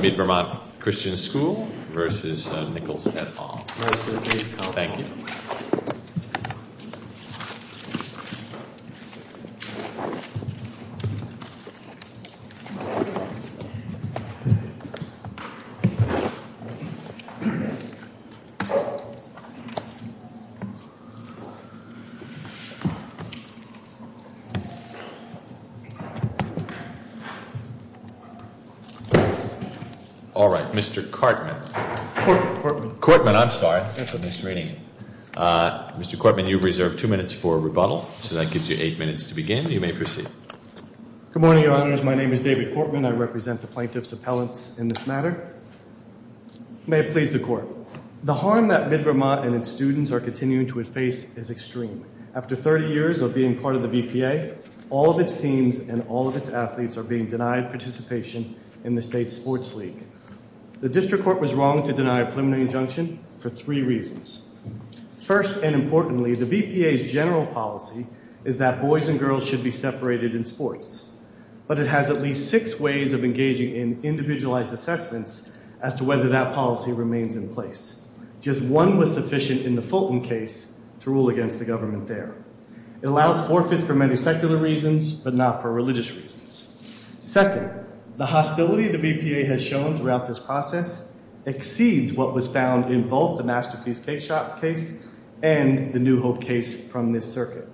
Mid-Vermont Christian School v. Nichols-Hetfall. All right, Mr. Cortman. Cortman. Cortman, I'm sorry. That's a misreading. Mr. Cortman, you have reserved two minutes for rebuttal. So that gives you eight minutes to begin. You may proceed. Good morning, Your Honors. My name is David Cortman. I represent the plaintiff's appellants in this matter. May it please the Court. The harm that Mid-Vermont and its students are continuing to face is extreme. After 30 years of being part of the VPA, all of its teams and all of its athletes are being denied participation in the state sports league. The district court was wrong to deny a preliminary injunction for three reasons. First and importantly, the VPA's general policy is that boys and girls should be separated in sports. But it has at least six ways of engaging in individualized assessments as to whether that policy remains in place. Just one was sufficient in the Fulton case to rule against the government there. It allows forfeits for many secular reasons, but not for religious reasons. Second, the hostility the VPA has shown throughout this process exceeds what was found in both the Masterpiece Case case and the New Hope case from this circuit.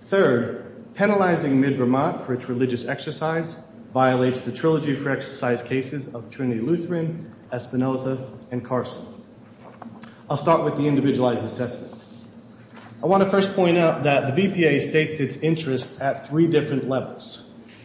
Third, penalizing Mid-Vermont for its religious exercise violates the trilogy for exercise cases of Trinity Lutheran, Espinosa, and Carson. I'll start with the individualized assessment. I want to first point out that the VPA states its interest at three different levels.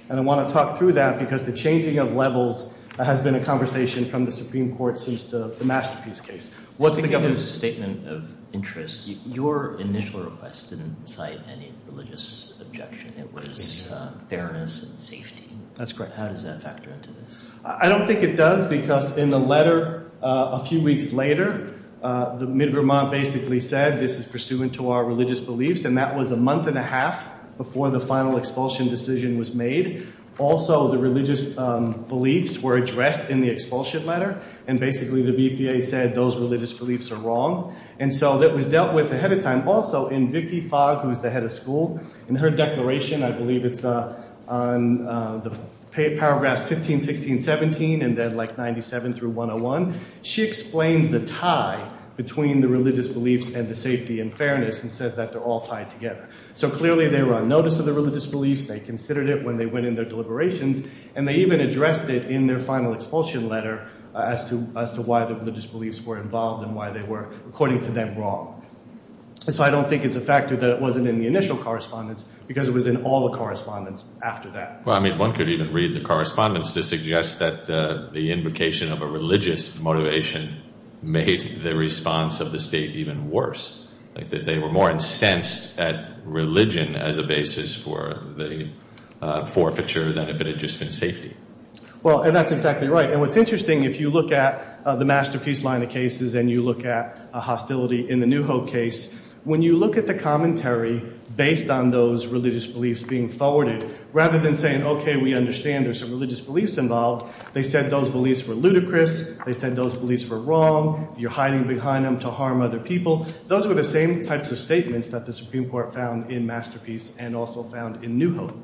And I want to talk through that because the changing of levels has been a conversation from the Supreme Court since the Masterpiece Case. What's the government's statement of interest? Your initial request didn't cite any religious objection. It was fairness and safety. That's correct. How does that factor into this? I don't think it does because in the letter a few weeks later, the Mid-Vermont basically said this is pursuant to our religious beliefs, and that was a month and a half before the final expulsion decision was made. Also, the religious beliefs were addressed in the expulsion letter, and basically the VPA said those religious beliefs are wrong. And so that was dealt with ahead of time. Also, in Vicki Fogg, who's the head of school, in her declaration, I believe it's on the paragraphs 15, 16, 17, and then like 97 through 101, she explains the tie between the religious beliefs and the safety and fairness and says that they're all tied together. So clearly they were on notice of the religious beliefs, they considered it when they went in their deliberations, and they even addressed it in their final expulsion letter as to why the religious beliefs were involved and why they were, according to them, wrong. So I don't think it's a factor that it wasn't in the initial correspondence because it was in all the correspondence after that. Well, I mean, one could even read the correspondence to suggest that the invocation of a religious motivation made the response of the state even worse, like that they were more incensed at religion as a basis for the forfeiture than if it had just been safety. Well, and that's exactly right. And what's interesting, if you look at the Masterpiece line of cases and you look at hostility in the New Hope case, when you look at the commentary based on those religious beliefs being forwarded, rather than saying, okay, we understand there's some religious beliefs involved, they said those beliefs were ludicrous, they said those beliefs were wrong, you're hiding behind them to harm other people. Those were the same types of statements that the Supreme Court found in Masterpiece and also found in New Hope.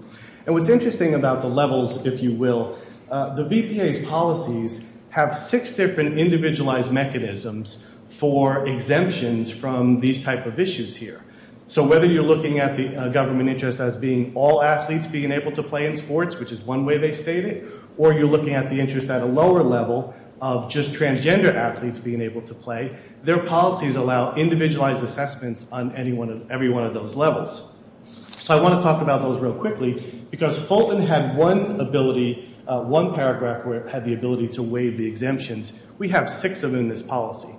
And what's interesting about the levels, if you will, the VPA's policies have six different individualized mechanisms for exemptions from these type of issues here. So whether you're looking at the government interest as being all athletes being able to play in sports, which is one way they state it, or you're looking at the interest at a lower level of just transgender athletes being able to play, their policies allow individualized assessments on every one of those levels. So I want to talk about those real quickly because Fulton had one ability, one paragraph where it had the ability to waive the exemptions. We have six of them in this policy.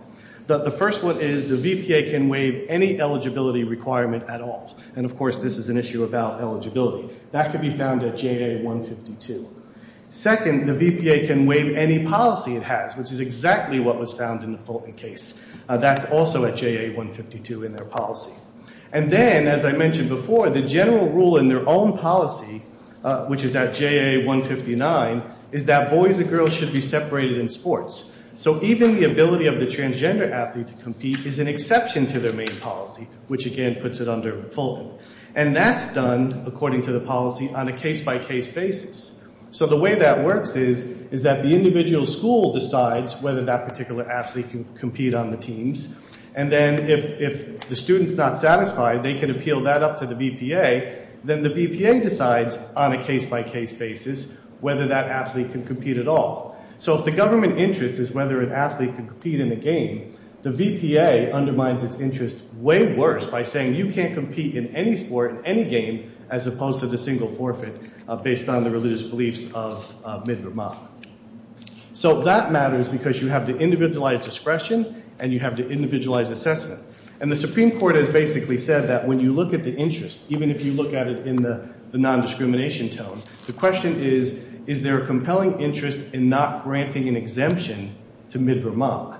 The first one is the VPA can waive any eligibility requirement at all, and of course this is an issue about eligibility. That can be found at JA 152. Second, the VPA can waive any policy it has, which is exactly what was found in the Fulton case. That's also at JA 152 in their policy. And then, as I mentioned before, the general rule in their own policy, which is at JA 159, is that boys and girls should be separated in sports. So even the ability of the transgender athlete to compete is an exception to their main policy, which again puts it under Fulton. And that's done, according to the policy, on a case-by-case basis. So the way that works is that the individual school decides whether that particular athlete can compete on the teams, and then if the student's not satisfied, they can appeal that up to the VPA, then the VPA decides on a case-by-case basis whether that athlete can compete at all. So if the government interest is whether an athlete can compete in a game, the VPA undermines its interest way worse by saying you can't compete in any sport, any game, as opposed to the single forfeit based on the religious beliefs of Mithra Ma. So that matters because you have to individualize discretion and you have to individualize assessment. And the Supreme Court has basically said that when you look at the interest, even if you look at it in the nondiscrimination tone, the question is, is there a compelling interest in not granting an exemption to Mithra Ma?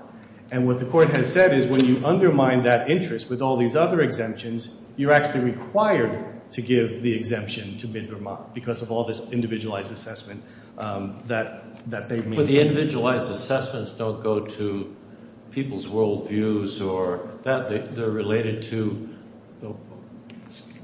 And what the court has said is when you undermine that interest with all these other exemptions, you're actually required to give the exemption to Mithra Ma because of all this individualized assessment that they've made. But the individualized assessments don't go to people's world views or that. They're related to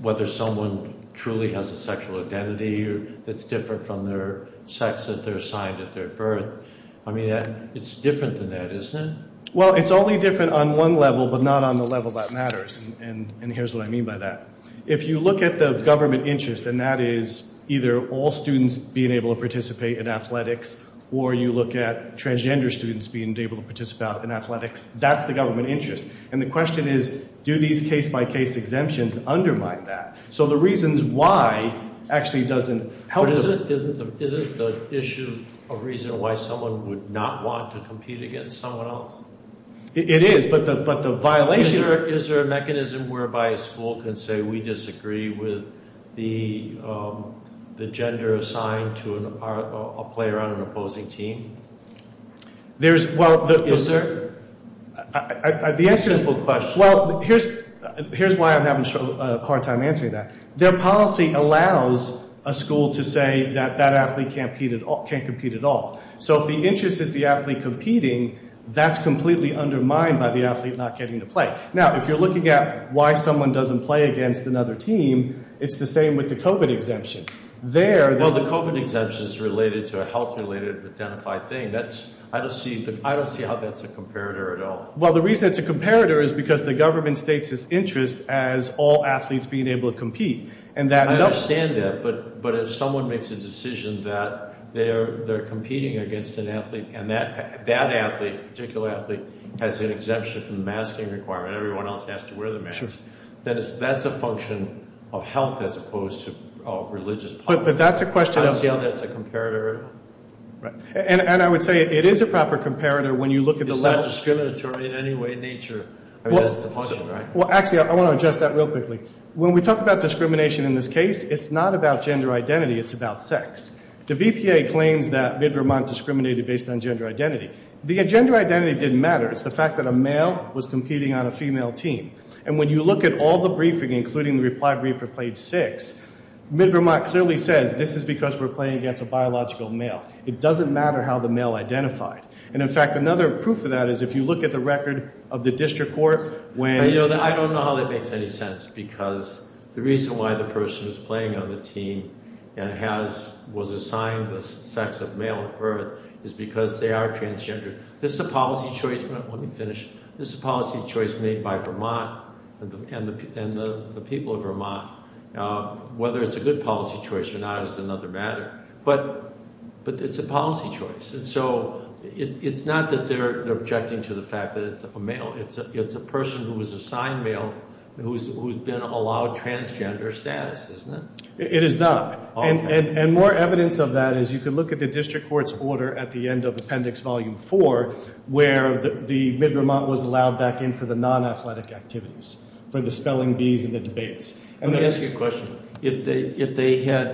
whether someone truly has a sexual identity that's different from their sex that they're assigned at their birth. I mean, it's different than that, isn't it? Well, it's only different on one level but not on the level that matters, and here's what I mean by that. If you look at the government interest and that is either all students being able to participate in athletics or you look at transgender students being able to participate in athletics, that's the government interest. And the question is, do these case-by-case exemptions undermine that? So the reasons why actually doesn't help. But isn't the issue a reason why someone would not want to compete against someone else? It is, but the violation – Is there a mechanism whereby a school can say, we disagree with the gender assigned to a player on an opposing team? Yes, sir. Simple question. Well, here's why I'm having a hard time answering that. Their policy allows a school to say that that athlete can't compete at all. So if the interest is the athlete competing, that's completely undermined by the athlete not getting to play. Now, if you're looking at why someone doesn't play against another team, it's the same with the COVID exemption. Well, the COVID exemption is related to a health-related identified thing. I don't see how that's a comparator at all. Well, the reason it's a comparator is because the government states its interest as all athletes being able to compete. I understand that, but if someone makes a decision that they're competing against an athlete and that athlete, a particular athlete, has an exemption from the masking requirement, everyone else has to wear the mask, that's a function of health as opposed to religious policy. But that's a question of – I don't see how that's a comparator at all. And I would say it is a proper comparator when you look at the level – It's not discriminatory in any way, nature. I mean, that's the question, right? Well, actually, I want to address that real quickly. When we talk about discrimination in this case, it's not about gender identity. It's about sex. The VPA claims that Midvermont discriminated based on gender identity. The gender identity didn't matter. It's the fact that a male was competing on a female team. And when you look at all the briefing, including the reply brief for page 6, Midvermont clearly says this is because we're playing against a biological male. It doesn't matter how the male identified. And, in fact, another proof of that is if you look at the record of the district court when – I don't know how that makes any sense because the reason why the person who's playing on the team and was assigned the sex of male at birth is because they are transgender. This is a policy choice – Let me finish. This is a policy choice made by Vermont and the people of Vermont. Whether it's a good policy choice or not is another matter. But it's a policy choice. And so it's not that they're objecting to the fact that it's a male. It's a person who was assigned male who's been allowed transgender status, isn't it? It is not. And more evidence of that is you can look at the district court's order at the end of Appendix Volume 4 where the Midvermont was allowed back in for the non-athletic activities, for the spelling bees and the debates. Let me ask you a question. If they had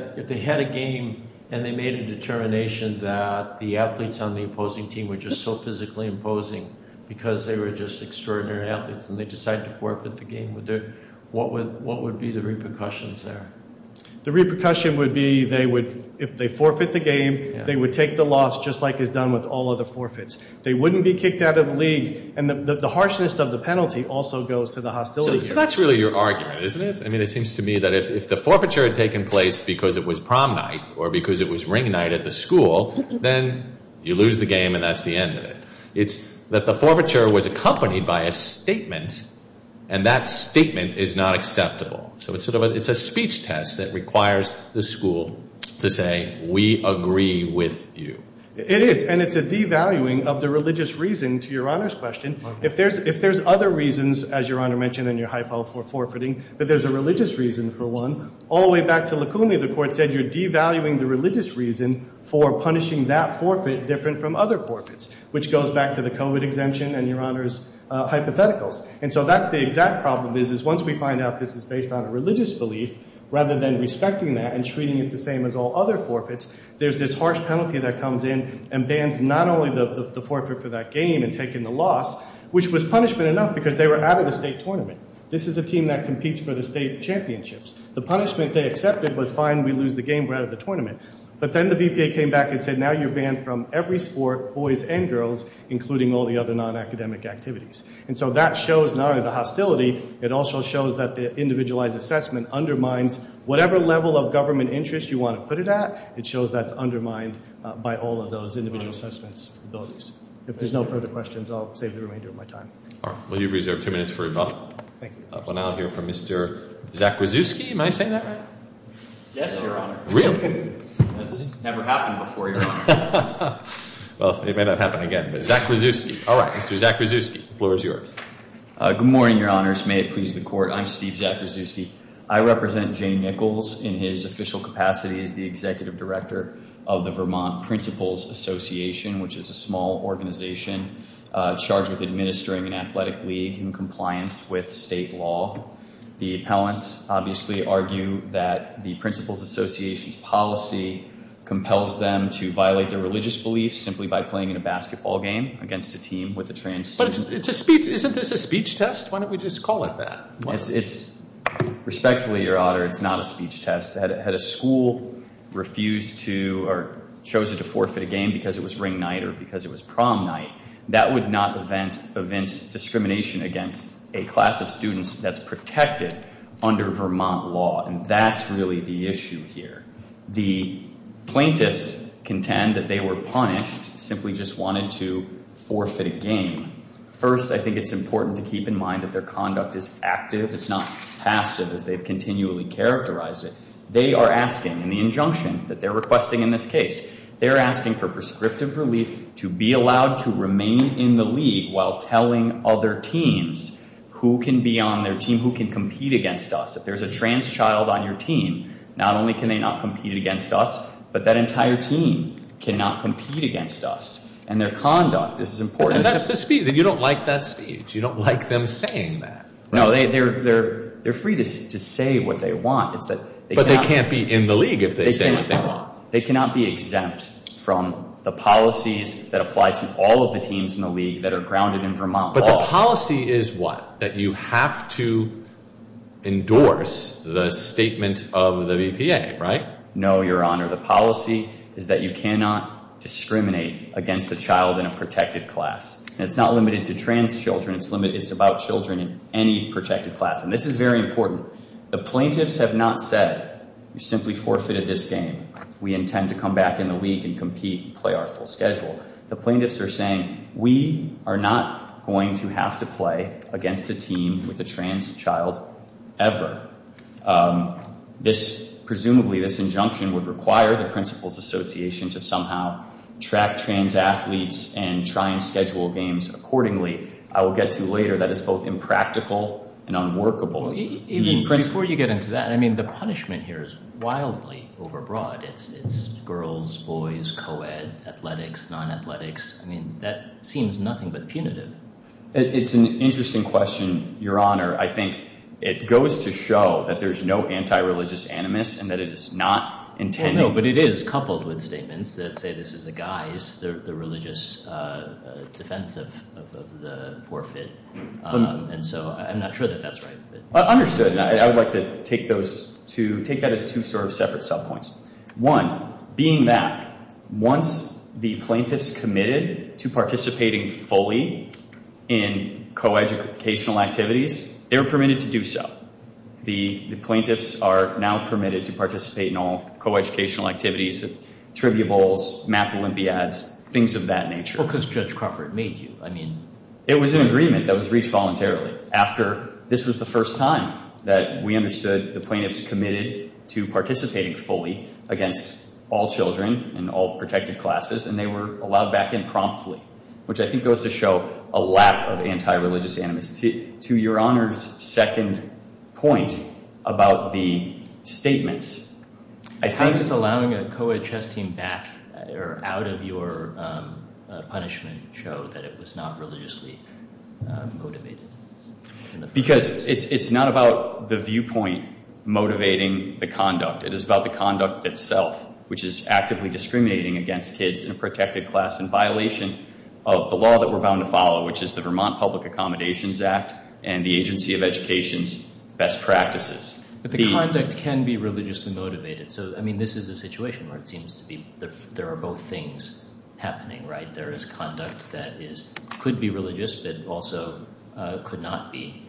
a game and they made a determination that the athletes on the opposing team were just so physically imposing because they were just extraordinary athletes and they decided to forfeit the game, what would be the repercussions there? The repercussion would be if they forfeit the game, they would take the loss just like is done with all other forfeits. They wouldn't be kicked out of the league. And the harshness of the penalty also goes to the hostility. So that's really your argument, isn't it? I mean it seems to me that if the forfeiture had taken place because it was prom night or because it was ring night at the school, then you lose the game and that's the end of it. It's that the forfeiture was accompanied by a statement, and that statement is not acceptable. So it's a speech test that requires the school to say we agree with you. It is, and it's a devaluing of the religious reason to Your Honor's question. If there's other reasons, as Your Honor mentioned in your hypo for forfeiting, but there's a religious reason for one. All the way back to Lacuna, the court said you're devaluing the religious reason for punishing that forfeit different from other forfeits, which goes back to the COVID exemption and Your Honor's hypotheticals. And so that's the exact problem is once we find out this is based on a religious belief, rather than respecting that and treating it the same as all other forfeits, there's this harsh penalty that comes in and bans not only the forfeit for that game and taking the loss, which was punishment enough because they were out of the state tournament. This is a team that competes for the state championships. The punishment they accepted was fine, we lose the game, we're out of the tournament. But then the VPA came back and said now you're banned from every sport, boys and girls, including all the other non-academic activities. And so that shows not only the hostility, it also shows that the individualized assessment undermines whatever level of government interest you want to put it at. It shows that's undermined by all of those individual assessment abilities. If there's no further questions, I'll save the remainder of my time. All right. Well, you've reserved two minutes for rebuttal. Thank you. But now I'll hear from Mr. Zakrzewski. Am I saying that right? Yes, Your Honor. Really? That's never happened before, Your Honor. Well, it may not happen again. But Zakrzewski. All right. Mr. Zakrzewski, the floor is yours. Good morning, Your Honors. May it please the Court. I'm Steve Zakrzewski. I represent Jane Nichols in his official capacity as the executive director of the Vermont Principals Association, which is a small organization charged with administering an athletic league in compliance with state law. The appellants obviously argue that the Principals Association's policy compels them to violate their religious beliefs simply by playing in a basketball game against a team with a trans student. But it's a speech. Isn't this a speech test? Why don't we just call it that? It's respectfully, Your Honor, it's not a speech test. Had a school refused to or chosen to forfeit a game because it was ring night or because it was prom night, that would not evince discrimination against a class of students that's protected under Vermont law. And that's really the issue here. The plaintiffs contend that they were punished, simply just wanted to forfeit a game. First, I think it's important to keep in mind that their conduct is active. It's not passive as they've continually characterized it. They are asking in the injunction that they're requesting in this case, they're asking for prescriptive relief to be allowed to remain in the league while telling other teams who can be on their team, who can compete against us. If there's a trans child on your team, not only can they not compete against us, but that entire team cannot compete against us. And their conduct is important. And that's the speech. You don't like that speech. You don't like them saying that. No, they're free to say what they want. But they can't be in the league if they say what they want. They cannot be exempt from the policies that apply to all of the teams in the league that are grounded in Vermont law. But the policy is what? That you have to endorse the statement of the VPA, right? No, Your Honor. The policy is that you cannot discriminate against a child in a protected class. And it's not limited to trans children. It's about children in any protected class. And this is very important. The plaintiffs have not said you simply forfeited this game. We intend to come back in the league and compete and play our full schedule. The plaintiffs are saying we are not going to have to play against a team with a trans child ever. Presumably this injunction would require the Principals Association to somehow track trans athletes and try and schedule games accordingly. I will get to later that it's both impractical and unworkable. Even before you get into that, I mean, the punishment here is wildly overbroad. It's girls, boys, co-ed, athletics, non-athletics. I mean, that seems nothing but punitive. It's an interesting question, Your Honor. I think it goes to show that there's no anti-religious animus and that it is not intended. No, but it is coupled with statements that say this is a guise, the religious defense of the forfeit. And so I'm not sure that that's right. Understood. I would like to take that as two sort of separate subpoints. One, being that once the plaintiffs committed to participating fully in co-educational activities, they were permitted to do so. The plaintiffs are now permitted to participate in all co-educational activities, trivia bowls, math olympiads, things of that nature. Because Judge Crawford made you, I mean. It was an agreement that was reached voluntarily after this was the first time that we understood the plaintiffs committed to participating fully against all children and all protected classes. And they were allowed back in promptly, which I think goes to show a lap of anti-religious animus. To Your Honor's second point about the statements, I think. How is allowing a co-ed chess team back out of your punishment show that it was not religiously motivated? Because it's not about the viewpoint motivating the conduct. It is about the conduct itself, which is actively discriminating against kids in a protected class in violation of the law that we're bound to follow, which is the Vermont Public Accommodations Act and the Agency of Education's best practices. But the conduct can be religiously motivated. So, I mean, this is a situation where it seems to be there are both things happening, right? There is conduct that could be religious, but also could not be.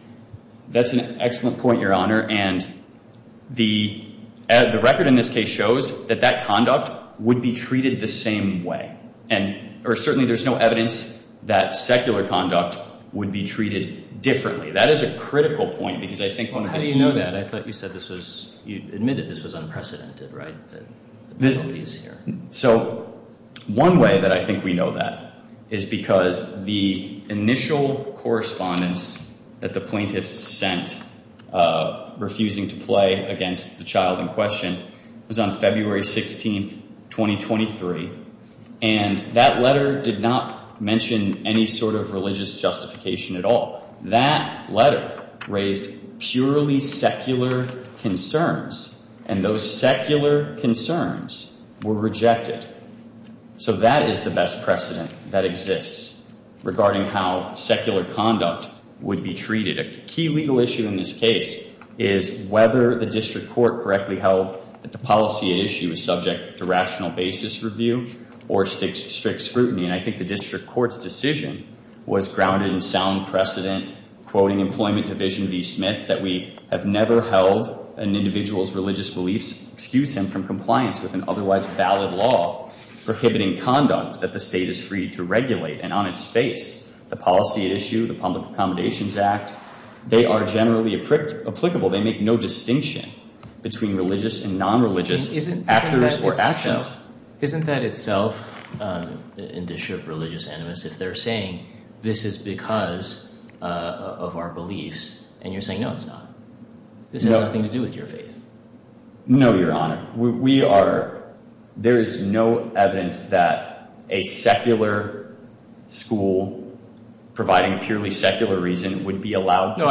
That's an excellent point, Your Honor. And the record in this case shows that that conduct would be treated the same way. And certainly there's no evidence that secular conduct would be treated differently. That is a critical point because I think one of the things— How do you know that? I thought you said this was—you admitted this was unprecedented, right? The police here. So one way that I think we know that is because the initial correspondence that the plaintiffs sent refusing to play against the child in question was on February 16th, 2023. And that letter did not mention any sort of religious justification at all. That letter raised purely secular concerns, and those secular concerns were rejected. So that is the best precedent that exists regarding how secular conduct would be treated. A key legal issue in this case is whether the district court correctly held that the policy at issue was subject to rational basis review or strict scrutiny. And I think the district court's decision was grounded in sound precedent, quoting Employment Division v. Smith, that we have never held an individual's religious beliefs excuse him from compliance with an otherwise valid law prohibiting conduct that the state is free to regulate. And on its face, the policy at issue, the Public Accommodations Act, they are generally applicable. They make no distinction between religious and nonreligious actors or actions. But isn't that itself, in district religious animus, if they're saying this is because of our beliefs, and you're saying no, it's not. This has nothing to do with your faith. No, Your Honor. We are – there is no evidence that a secular school providing purely secular reason would be allowed to do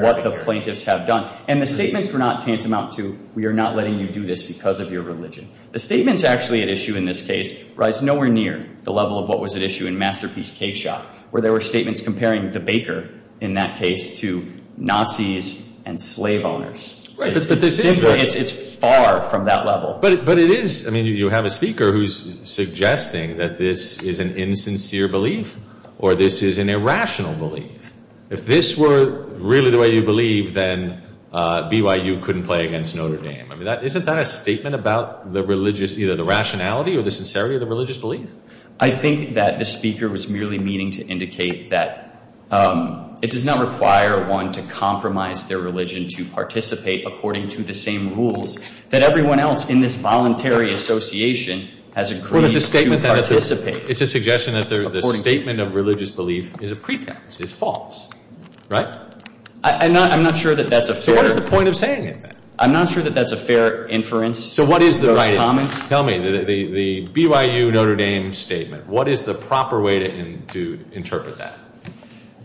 what the plaintiffs have done. And the statements were not tantamount to we are not letting you do this because of your religion. The statements actually at issue in this case rise nowhere near the level of what was at issue in Masterpiece Cakeshop, where there were statements comparing the baker in that case to Nazis and slave owners. It's far from that level. But it is – I mean, you have a speaker who's suggesting that this is an insincere belief or this is an irrational belief. If this were really the way you believe, then BYU couldn't play against Notre Dame. I mean, isn't that a statement about the religious – either the rationality or the sincerity of the religious belief? I think that the speaker was merely meaning to indicate that it does not require one to compromise their religion to participate according to the same rules that everyone else in this voluntary association has agreed to participate. It's a suggestion that the statement of religious belief is a pretext, is false, right? I'm not sure that that's a fair – So what is the point of saying it then? I'm not sure that that's a fair inference. So what is the right – Those comments. Tell me, the BYU-Notre Dame statement, what is the proper way to interpret that?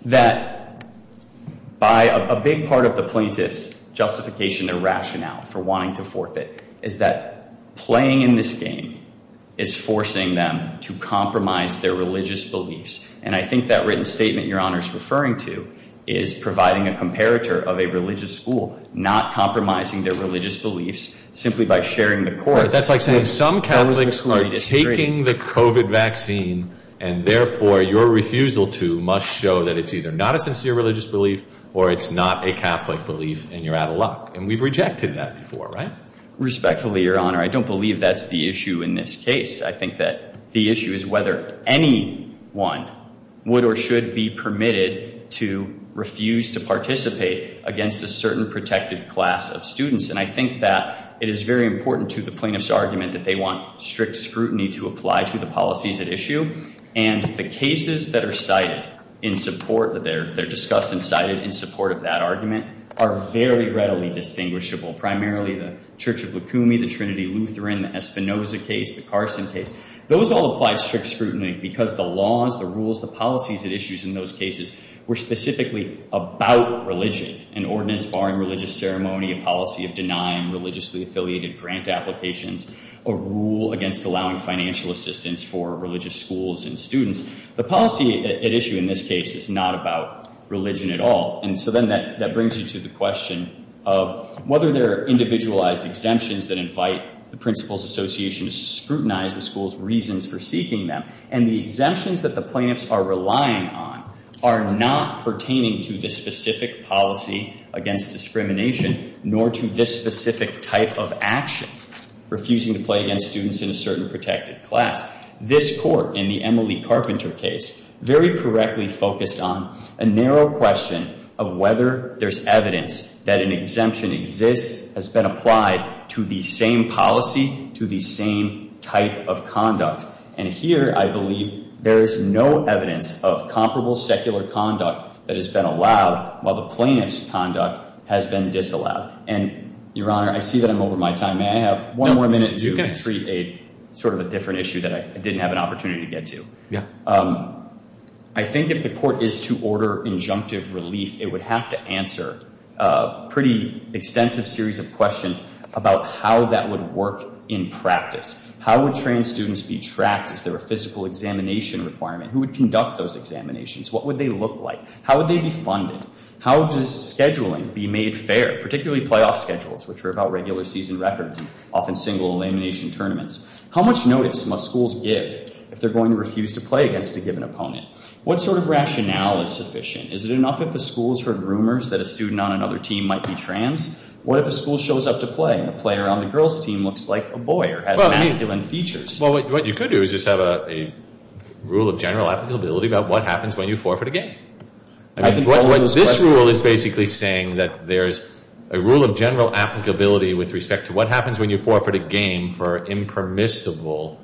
That by a big part of the plaintiff's justification and rationale for wanting to forfeit is that playing in this game is forcing them to compromise their religious beliefs. And I think that written statement Your Honor is referring to is providing a comparator of a religious school not compromising their religious beliefs simply by sharing the court. That's like saying some Catholics are taking the COVID vaccine and therefore your refusal to must show that it's either not a sincere religious belief or it's not a Catholic belief and you're out of luck. And we've rejected that before, right? Respectfully, Your Honor, I don't believe that's the issue in this case. I think that the issue is whether anyone would or should be permitted to refuse to participate against a certain protected class of students. And I think that it is very important to the plaintiff's argument that they want strict scrutiny to apply to the policies at issue. And the cases that are cited in support, that they're discussed and cited in support of that argument are very readily distinguishable. Primarily the Church of Lukumi, the Trinity Lutheran, the Espinoza case, the Carson case. Those all apply strict scrutiny because the laws, the rules, the policies at issue in those cases were specifically about religion. An ordinance barring religious ceremony, a policy of denying religiously affiliated grant applications, a rule against allowing financial assistance for religious schools and students. The policy at issue in this case is not about religion at all. And so then that brings you to the question of whether there are individualized exemptions that invite the Principal's Association to scrutinize the school's reasons for seeking them. And the exemptions that the plaintiffs are relying on are not pertaining to this specific policy against discrimination, nor to this specific type of action, refusing to play against students in a certain protected class. This Court, in the Emily Carpenter case, very correctly focused on a narrow question of whether there's evidence that an exemption exists, has been applied to the same policy, to the same type of conduct. And here I believe there is no evidence of comparable secular conduct that has been allowed while the plaintiff's conduct has been disallowed. And, Your Honor, I see that I'm over my time. May I have one more minute to treat a sort of a different issue that I didn't have an opportunity to get to? Yeah. I think if the Court is to order injunctive relief, it would have to answer a pretty extensive series of questions about how that would work in practice. How would trans students be tracked? Is there a physical examination requirement? Who would conduct those examinations? What would they look like? How would they be funded? How does scheduling be made fair, particularly playoff schedules, which are about regular season records and often single elimination tournaments? How much notice must schools give if they're going to refuse to play against a given opponent? What sort of rationale is sufficient? Is it enough if the school's heard rumors that a student on another team might be trans? What if a school shows up to play and the player on the girls' team looks like a boy or has masculine features? Well, what you could do is just have a rule of general applicability about what happens when you forfeit a game. This rule is basically saying that there's a rule of general applicability with respect to what happens when you forfeit a game for impermissible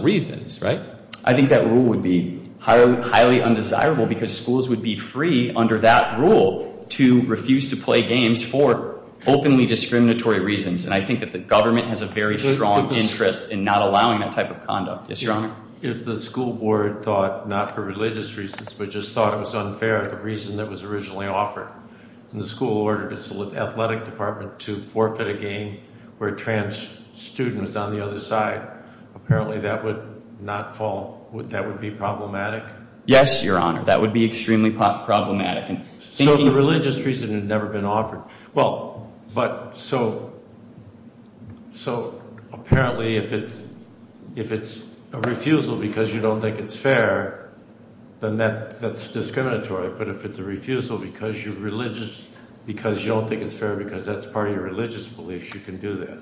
reasons, right? I think that rule would be highly undesirable because schools would be free, under that rule, to refuse to play games for openly discriminatory reasons. And I think that the government has a very strong interest in not allowing that type of conduct. Yes, Your Honor? If the school board thought not for religious reasons but just thought it was unfair, the reason that was originally offered, and the school ordered its athletic department to forfeit a game where a trans student was on the other side, apparently that would not fall, that would be problematic? Yes, Your Honor. That would be extremely problematic. So the religious reason had never been offered. Well, but so apparently if it's a refusal because you don't think it's fair, then that's discriminatory. But if it's a refusal because you don't think it's fair because that's part of your religious beliefs, you can do that.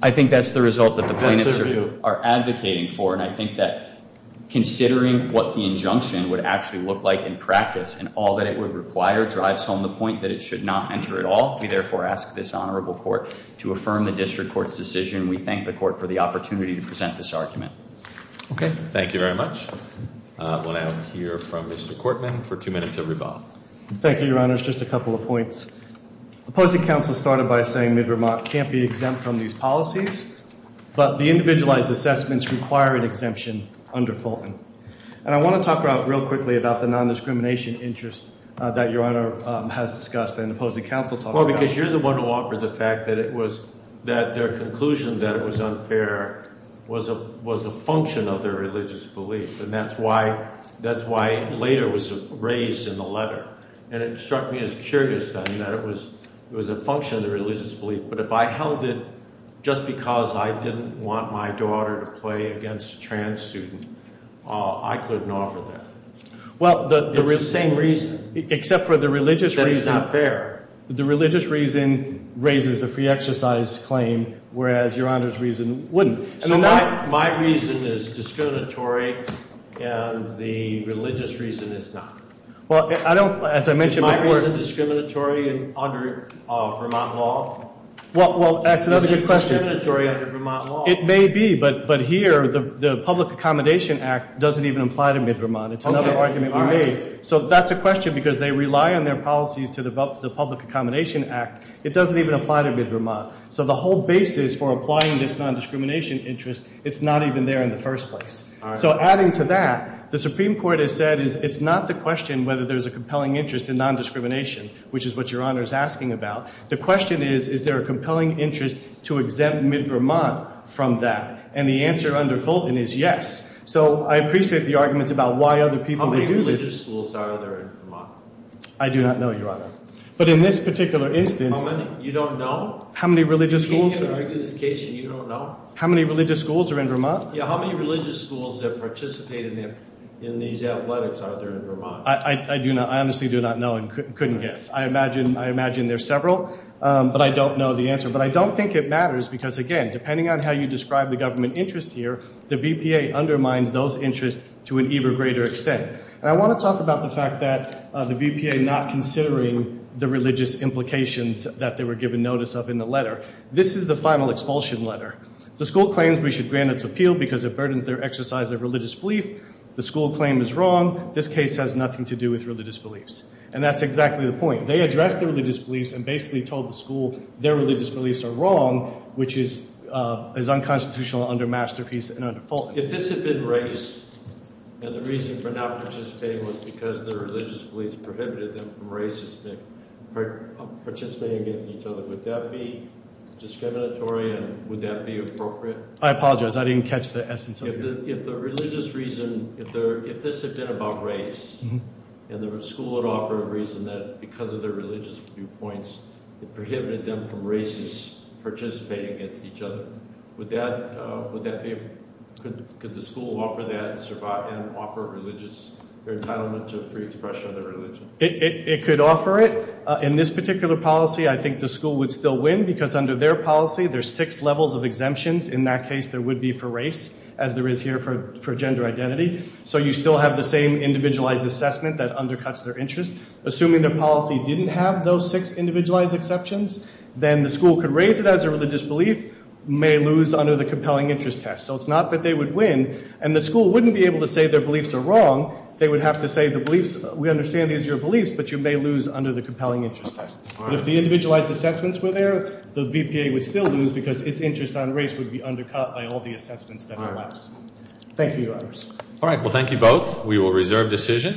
I think that's the result that the plaintiffs are advocating for, and I think that considering what the injunction would actually look like in practice and all that it would require drives home the point that it should not enter at all. We therefore ask this honorable court to affirm the district court's decision, and we thank the court for the opportunity to present this argument. Okay. Thank you very much. We'll now hear from Mr. Cortman for two minutes of rebuttal. Thank you, Your Honors. Just a couple of points. Opposing counsel started by saying mid-remark can't be exempt from these policies, but the individualized assessments require an exemption under Fulton. And I want to talk real quickly about the non-discrimination interest that Your Honor has discussed and opposing counsel talked about. Well, because you're the one who offered the fact that it was – that their conclusion that it was unfair was a function of their religious belief, and that's why later it was raised in the letter. And it struck me as curious then that it was a function of their religious belief. But if I held it just because I didn't want my daughter to play against a trans student, I couldn't offer that. Well, the – It's the same reason. Except for the religious reason. That it's not fair. The religious reason raises the free exercise claim, whereas Your Honor's reason wouldn't. So my reason is discriminatory, and the religious reason is not. Well, I don't – as I mentioned before – Well, that's another good question. It may be, but here the Public Accommodation Act doesn't even apply to Midvermont. It's another argument we made. So that's a question because they rely on their policies to develop the Public Accommodation Act. It doesn't even apply to Midvermont. So the whole basis for applying this non-discrimination interest, it's not even there in the first place. So adding to that, the Supreme Court has said it's not the question whether there's a compelling interest in non-discrimination, which is what Your Honor is asking about. The question is, is there a compelling interest to exempt Midvermont from that? And the answer under Fulton is yes. So I appreciate the arguments about why other people would do this. How many religious schools are there in Vermont? I do not know, Your Honor. But in this particular instance – How many? You don't know? How many religious schools – Can you argue this case and you don't know? How many religious schools are in Vermont? Yeah, how many religious schools that participate in these athletics are there in Vermont? I honestly do not know and couldn't guess. I imagine there's several, but I don't know the answer. But I don't think it matters because, again, depending on how you describe the government interest here, the VPA undermines those interests to an even greater extent. And I want to talk about the fact that the VPA not considering the religious implications that they were given notice of in the letter. This is the final expulsion letter. The school claims we should grant its appeal because it burdens their exercise of religious belief. The school claim is wrong. This case has nothing to do with religious beliefs. And that's exactly the point. They addressed their religious beliefs and basically told the school their religious beliefs are wrong, which is unconstitutional under Masterpiece and under Fulton. If this had been race and the reason for not participating was because their religious beliefs prohibited them from participating against each other, would that be discriminatory and would that be appropriate? I apologize. I didn't catch the essence of that. If the religious reason, if this had been about race and the school would offer a reason that because of their religious viewpoints, it prohibited them from races participating against each other, would that be, could the school offer that and offer religious entitlement to free expression of their religion? It could offer it. In this particular policy, I think the school would still win because under their policy, there's six levels of exemptions. In that case, there would be for race, as there is here for gender identity. So you still have the same individualized assessment that undercuts their interest. Assuming the policy didn't have those six individualized exceptions, then the school could raise it as a religious belief, may lose under the compelling interest test. So it's not that they would win. And the school wouldn't be able to say their beliefs are wrong. They would have to say the beliefs, we understand these are your beliefs, but you may lose under the compelling interest test. If the individualized assessments were there, the VPA would still lose because its interest on race would be undercut by all the assessments that are left. Thank you, Your Honors. All right. Well, thank you both. We will reserve decision.